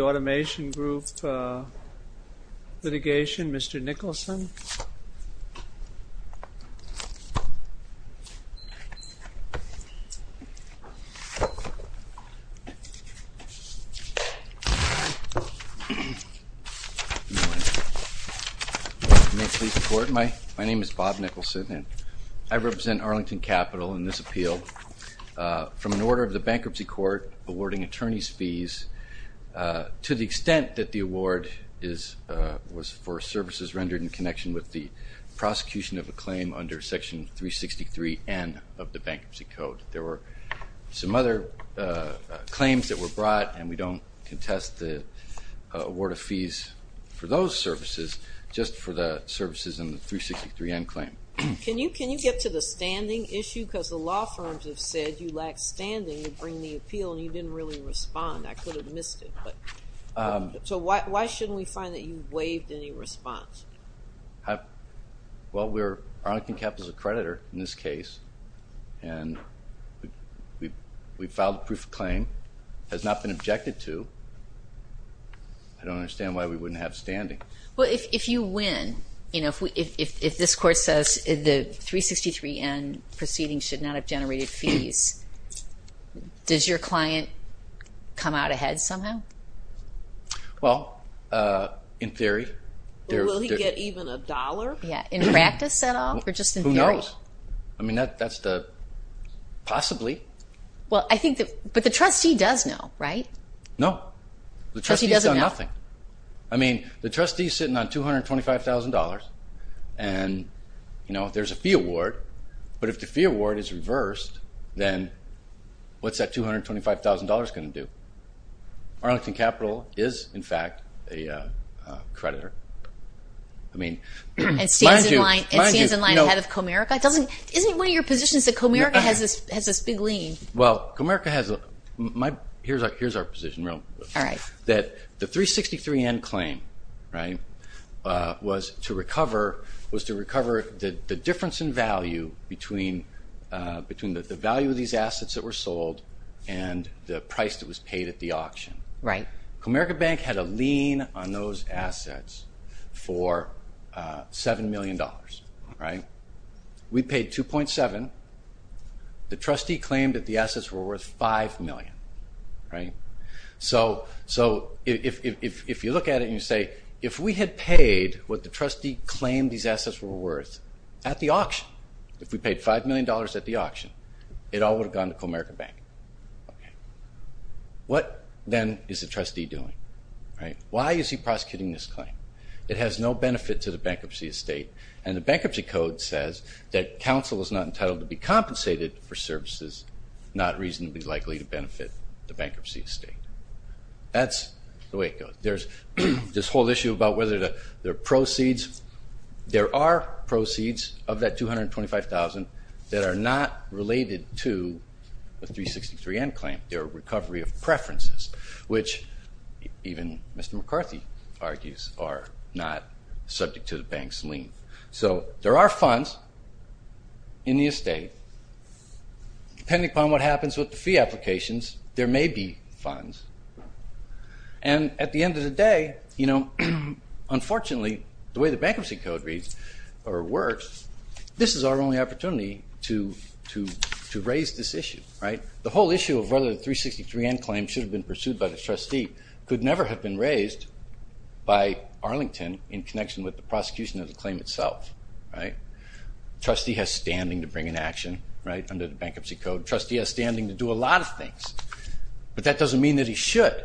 Automation Group litigation. Mr. Nicholson. May it please the court. My name is Bob Nicholson and I represent Arlington Capital in this appeal. From an order of the Bankruptcy Court awarding attorneys fees to the extent that the award was for services rendered in connection with the prosecution of a claim under section 363N of the Bankruptcy Code. There were some other claims that were brought and we don't contest the award of fees for those services, just for the services in the 363N claim. Can you get to the standing issue because the law firms have said you appeal and you didn't really respond. I could have missed it. So why shouldn't we find that you waived any response? Well we're Arlington Capital's accreditor in this case and we filed a proof of claim, has not been objected to. I don't understand why we wouldn't have standing. Well if you win, you know, if this court says the 363N proceeding should not have generated fees, does your client come out ahead somehow? Well, in theory. Will he get even a dollar? Yeah, in practice at all or just in theory? Who knows? I mean that's the, possibly. Well I think that, but the trustee does know, right? No. The trustee's done nothing. I mean the trustee's sitting on $225,000 and, you know, there's a fee award. But if the fee award is reversed, then what's that $225,000 going to do? Arlington Capital is, in fact, a creditor. I mean, mind you, mind you. It stands in line ahead of Comerica. Isn't one of your positions that Comerica has this big lien? Well Comerica has a, here's our position real quick. Alright. That the 363N claim, right, was to recover the difference in value between the value of these assets that were sold and the price that was paid at the auction. Right. Comerica Bank had a lien on those assets for $7 million, right? We paid $2.7 million. The trustee claimed that the assets were worth $5 million, right? So if you look at it and you say, if we had paid what the trustee claimed these assets were worth at the auction, if we paid $5 million at the auction, it all would have gone to Comerica Bank. Okay. What then is the trustee doing, right? Why is he prosecuting this claim? It has no benefit to the bankruptcy estate and the Bankruptcy Code says that counsel is not entitled to be compensated for services not reasonably likely to benefit the bankruptcy estate. That's the way it goes. There's this whole issue about whether there are proceeds. There are proceeds of that $225,000 that are not related to the 363N claim. They're a recovery of preferences, which even Mr. McCarthy argues are not subject to the bank's lien. So there are funds in the estate. Depending upon what happens with the fee applications, there may be funds. And at the end of the day, you know, unfortunately, the way the Bankruptcy Code reads or works, this is our only opportunity to raise this issue, right? The whole issue of whether the 363N claim should have been pursued by the trustee could never have been raised by Arlington in connection with the prosecution of the claim itself, right? Trustee has standing to bring an action, right, under the Bankruptcy Code. Trustee has standing to do a lot of things, but that doesn't mean that he should.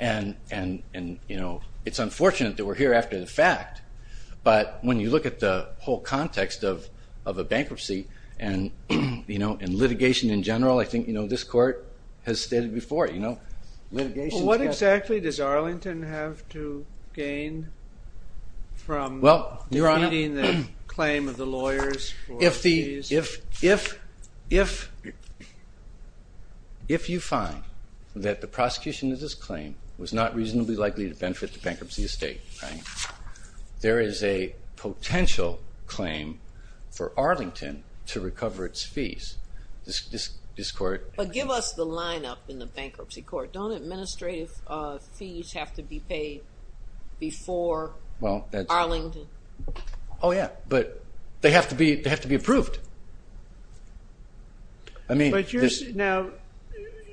And, you know, it's unfortunate that we're here after the fact, but when you look at the whole context of a bankruptcy and, you know, and litigation in general, I think, you know, this Court has stated before, you know, litigations have- Well, what exactly does Arlington have to gain from- Well, Your Honor- Defeating the claim of the lawyers for fees? If you find that the prosecution of this claim was not reasonably likely to benefit the bankruptcy estate, right, there is a potential claim for Arlington to recover its fees. This Court- But give us the lineup in the Bankruptcy Court. Don't administrative fees have to be paid before Arlington? Oh, yeah, but they have to be approved. I mean- Now,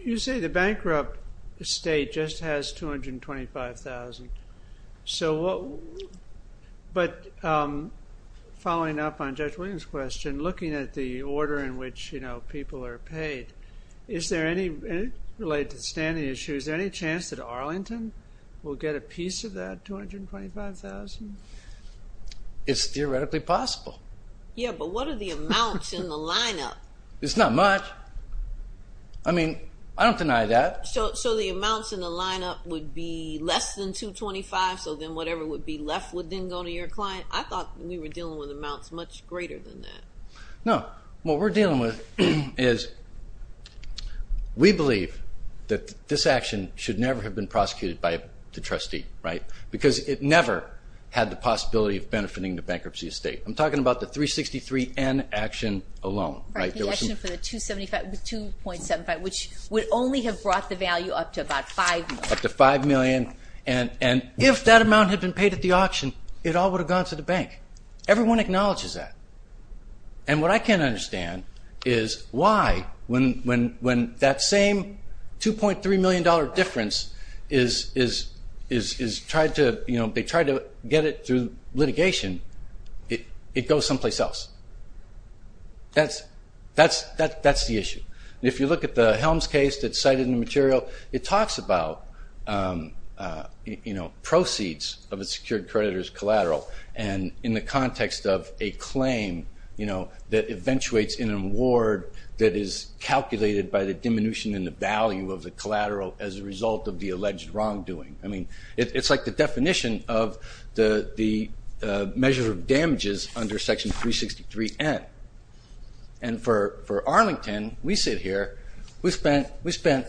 you say the bankrupt estate just has $225,000. So, but following up on Judge Williams' question, looking at the order in which, you know, people are paid, is there any, related to the standing issues, is there any chance that Arlington will get a piece of that $225,000? It's theoretically possible. Yeah, but what are the amounts in the lineup? It's not much. I mean, I don't deny that. So, so the amounts in the lineup would be less than $225,000, so then whatever would be left would then go to your client? I thought we were dealing with amounts much greater than that. No, what we're dealing with is, we believe that this action should never have been prosecuted by the trustee, right, because it never had the possibility of benefiting the bankruptcy estate. I'm talking about the 363N action alone, right? The action for the 275, the 2.75, which would only have brought the value up to about $5 million. Up to $5 million, and if that amount had been paid at the auction, it all would have gone to the bank. Everyone acknowledges that. And what I can't understand is why, when that same $2.3 million difference is tried to, you know, they tried to get it through litigation, it goes someplace else. That's the issue. If you look at the Helms case that's cited in the material, it talks about, you know, proceeds of a secured creditor's collateral, and in the context of a claim, you know, that eventuates in an award that is calculated by the diminution in the value of the collateral as a result of the alleged wrongdoing. I mean, it's like the definition of the measure of damages under Section 363N. And for Arlington, we sit here, we spent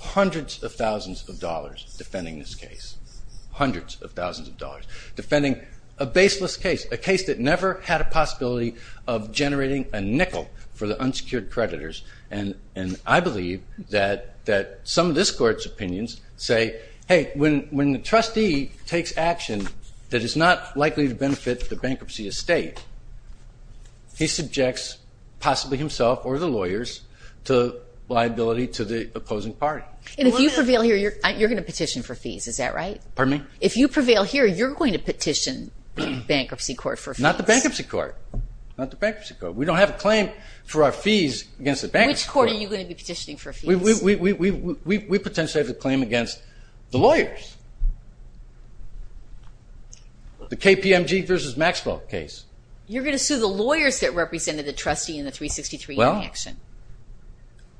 hundreds of thousands of dollars defending this case. Hundreds of thousands of dollars defending a baseless case, a case that never had a possibility of generating a nickel for the some of this Court's opinions say, hey, when the trustee takes action that is not likely to benefit the bankruptcy estate, he subjects possibly himself or the lawyers to liability to the opposing party. And if you prevail here, you're going to petition for fees, is that right? Pardon me? If you prevail here, you're going to petition bankruptcy court for fees. Not the bankruptcy court. Not the bankruptcy court. We don't have a claim for our fees against the bankruptcy court. Which court are you going to be petitioning for fees? We potentially have a claim against the lawyers. The KPMG versus Maxwell case. You're going to sue the lawyers that represented the trustee in the 363N action.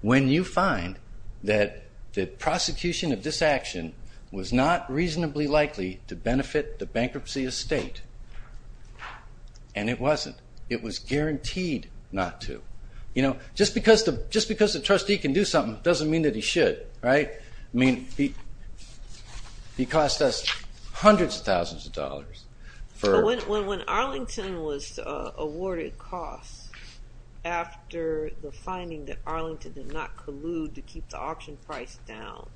When you find that the prosecution of this action was not reasonably likely to benefit the bankruptcy estate, and it wasn't, it was guaranteed not to. Just because the trustee can do something, doesn't mean that he should, right? I mean, he cost us hundreds of thousands of dollars for... When Arlington was awarded costs after the finding that Arlington did not collude to keep the auction price down,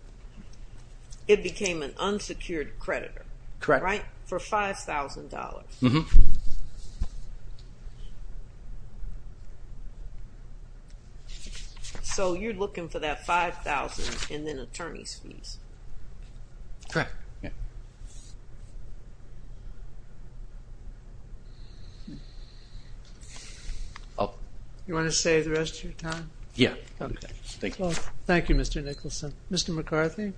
it became an unsecured creditor. Correct. Right? For $5,000. So you're looking for that $5,000 and then attorney's fees? Correct. You want to say the rest of your time? Yeah. Thank you, Mr. Nicholson. Mr. McCarthy?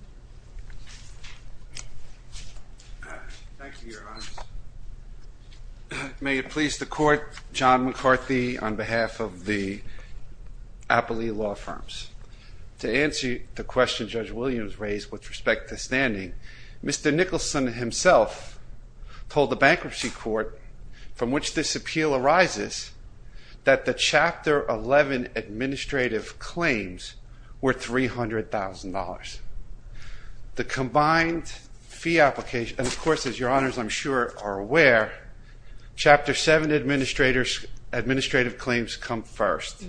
Thank you, Your Honors. May it please the court, John McCarthy on behalf of the Appley Law Firms. To answer the question Judge Williams raised with respect to standing, Mr. Nicholson himself told the bankruptcy court, from which this appeal arises, that the Chapter 11 administrative claims were $300,000. The combined fee application, and of course, as Your Honors I'm sure are aware, Chapter 7 administrative claims come first,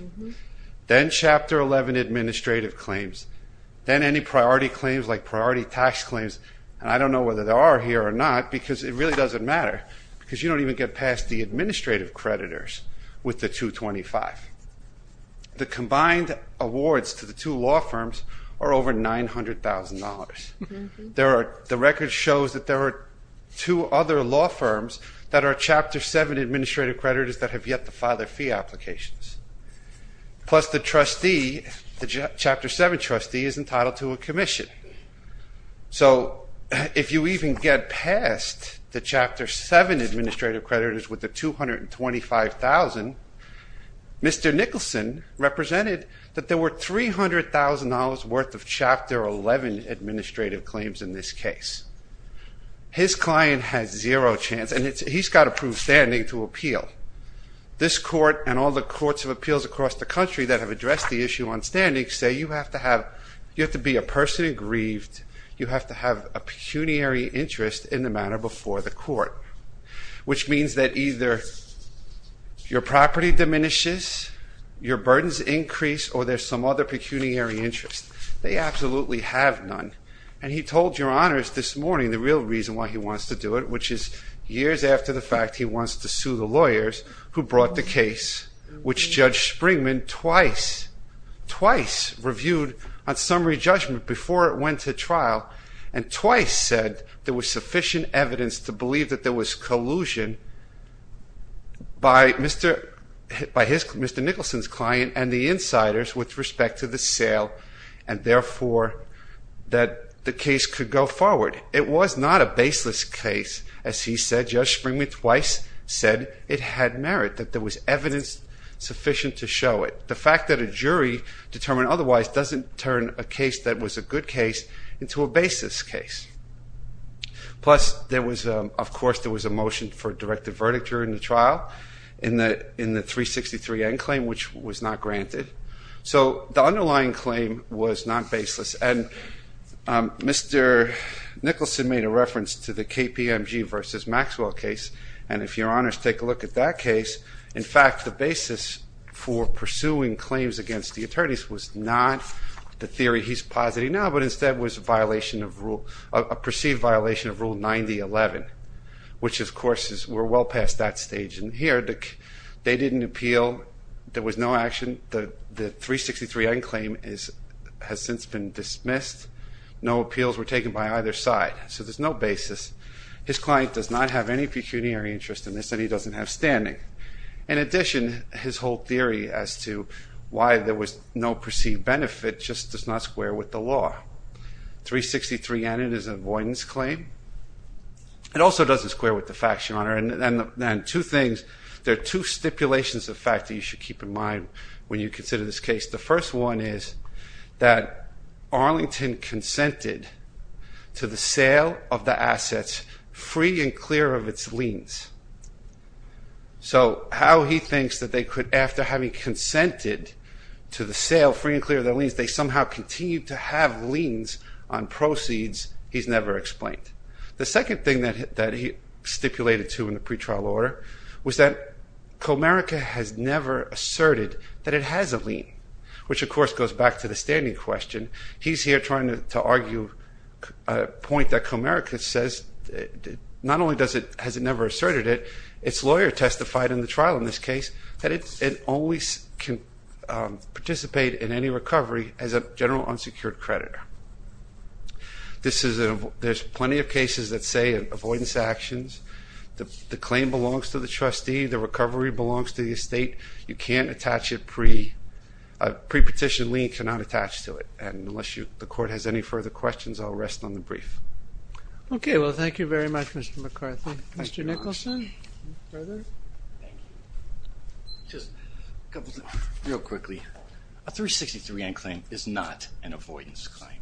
then Chapter 11 administrative claims, then any priority claims like priority tax claims, and I don't know whether they are here or not because it really doesn't matter because you don't even get past the administrative creditors with the 225. The combined awards to the two law firms are over $900,000. The record shows that there are two other law firms that are Chapter 7 administrative creditors that have yet to file their fee applications. Plus the trustee, the Chapter 7 trustee is entitled to a commission. So if you even get past the Chapter 7 administrative creditors with the 225,000, Mr. Nicholson represented that there were $300,000 worth of Chapter 11 administrative claims in this case. His client has zero chance, and he's got to prove standing to appeal. This court and all the courts of appeals across the country that have addressed the issue on have to have a pecuniary interest in the matter before the court, which means that either your property diminishes, your burdens increase, or there's some other pecuniary interest. They absolutely have none, and he told Your Honors this morning the real reason why he wants to do it, which is years after the fact he wants to sue the lawyers who brought the case, which Judge Springman twice reviewed on summary judgment before it went to trial, and twice said there was sufficient evidence to believe that there was collusion by Mr. Nicholson's client and the insiders with respect to the sale, and therefore, that the case could go forward. It was not a baseless case. As he said, Judge Springman twice said it had merit, that there was evidence sufficient to show it. The fact that a jury determined otherwise doesn't turn a case that was a good case into a baseless case. Plus, of course, there was a motion for a directive verdict during the trial in the 363N claim, which was not granted. So the underlying claim was not baseless, and Mr. Nicholson made a reference to the KPMG versus Maxwell case, and if Your Honors take a look at that case, in fact, the basis for pursuing claims against the attorneys was not the theory he's positing now, but instead was a violation of rule, a perceived violation of Rule 9011, which of course is, we're well past that stage in here. They didn't appeal. There was no action. The 363N claim has since been dismissed. No appeals were taken by either side. So there's no basis. His client does not have any pecuniary interest in this, and he doesn't have standing. In addition, his whole theory as to why there was no perceived benefit just does not square with the law. 363N is an avoidance claim. It also doesn't square with the facts, Your Honor, and two things. There are two stipulations of fact that you should keep in mind when you consider this case. The first one is that Arlington consented to the sale of the assets free and clear of its liens. So how he thinks that they could, after having consented to the sale free and clear of their liens, they somehow continue to have liens on proceeds, he's never explained. The second thing that he stipulated to in the pretrial order was that Comerica has never asserted that it has a lien, which of course goes back to the standing question. He's here trying to argue a point that Comerica says not only has it never asserted it, its lawyer testified in the trial in this case that it always can participate in any recovery as a general unsecured creditor. This is a, there's plenty of cases that say avoidance actions, the claim belongs to the trustee, the recovery belongs to the estate, you can't attach it pre, a pre-petition lien cannot attach to it, and unless you, the court has any further questions I'll rest on the brief. Okay, well thank you very much Mr. McCarthy. Mr. Nicholson, further? Thank you. Just a couple, real quickly, a 363N claim is not an avoidance claim.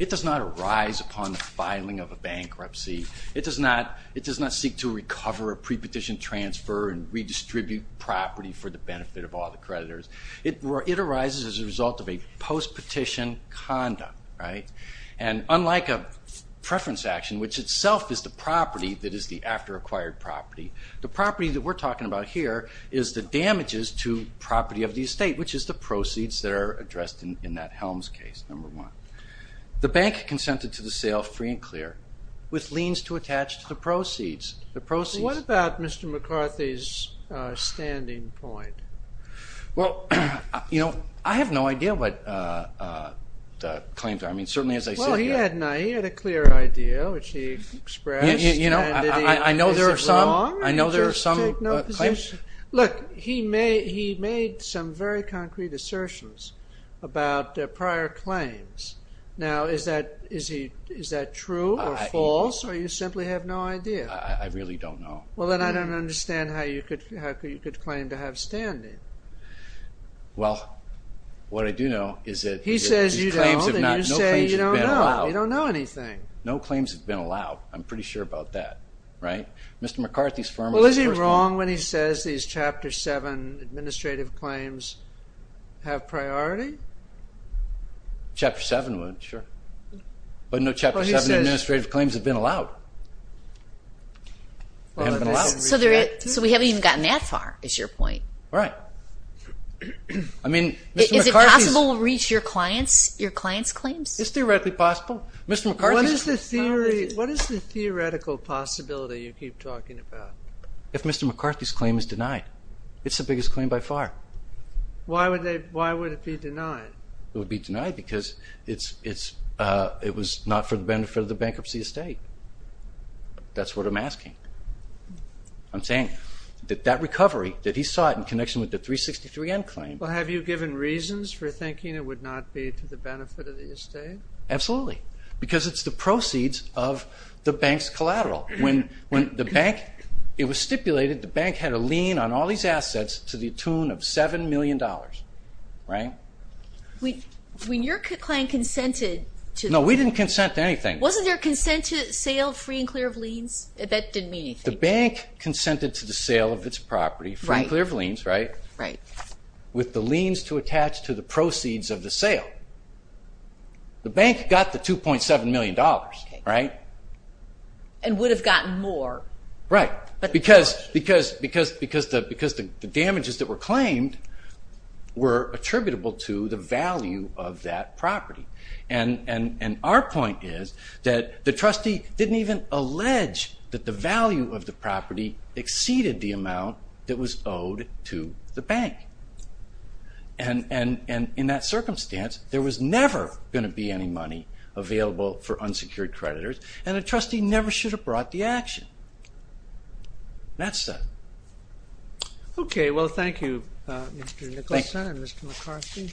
It does not arise upon the filing of a bankruptcy, it does not, it does not seek to recover a pre-petition transfer and redistribute property for the benefit of all the creditors. It arises as a result of a post-petition conduct, right, and unlike a preference action, which itself is the property that is the after-acquired property, the property that we're talking about here is the damages to property of the estate, which is the proceeds that are addressed in that Helms case, number one. The bank consented to the sale free and clear with liens to attach to the proceeds, the proceeds. What about Mr. McCarthy's standing point? Well, you know, I have no idea what the claims are, he had a clear idea, which he expressed. You know, I know there are some, I know there are some. Look, he made some very concrete assertions about prior claims. Now, is that true or false, or you simply have no idea? I really don't know. Well then I don't understand how you could claim to have standing. Well, what I do know is that... He says you don't, and you say you don't know. You don't know anything. No claims have been allowed, I'm pretty sure about that, right? Mr. McCarthy's firm... Well, is he wrong when he says these Chapter 7 administrative claims have priority? Chapter 7 would, sure, but no Chapter 7 administrative claims have been allowed. They haven't been allowed. So we haven't even gotten that far, is your point? Right. I mean, Mr. McCarthy's... Is it possible to reach your client's claims? It's theoretically possible. Mr. McCarthy's... What is the theoretical possibility you keep talking about? If Mr. McCarthy's claim is denied, it's the biggest claim by far. Why would it be denied? It would be denied because it was not for the benefit of the bankruptcy estate. That's what I'm asking. I'm saying that that recovery, that he saw it in connection with the 363N claim... Well, have you given reasons for thinking it would not be to the benefit of the estate? Absolutely, because it's the proceeds of the bank's collateral. When the bank... It was when your client consented to... No, we didn't consent to anything. Wasn't there consent to sale free and clear of liens? That didn't mean anything. The bank consented to the sale of its property free and clear of liens, right? Right. With the liens to attach to the proceeds of the sale. The bank got the $2.7 million, right? And would have gotten more. Right. Because the damages that were claimed were attributable to the value of that property. And our point is that the trustee didn't even allege that the value of the property exceeded the amount that was owed to the bank. And in that circumstance, there was never going to be any money available for unsecured creditors, and a trustee never should have brought the action. That's that. Okay. Well, thank you, Mr. Nicholson and Mr. McCarthy.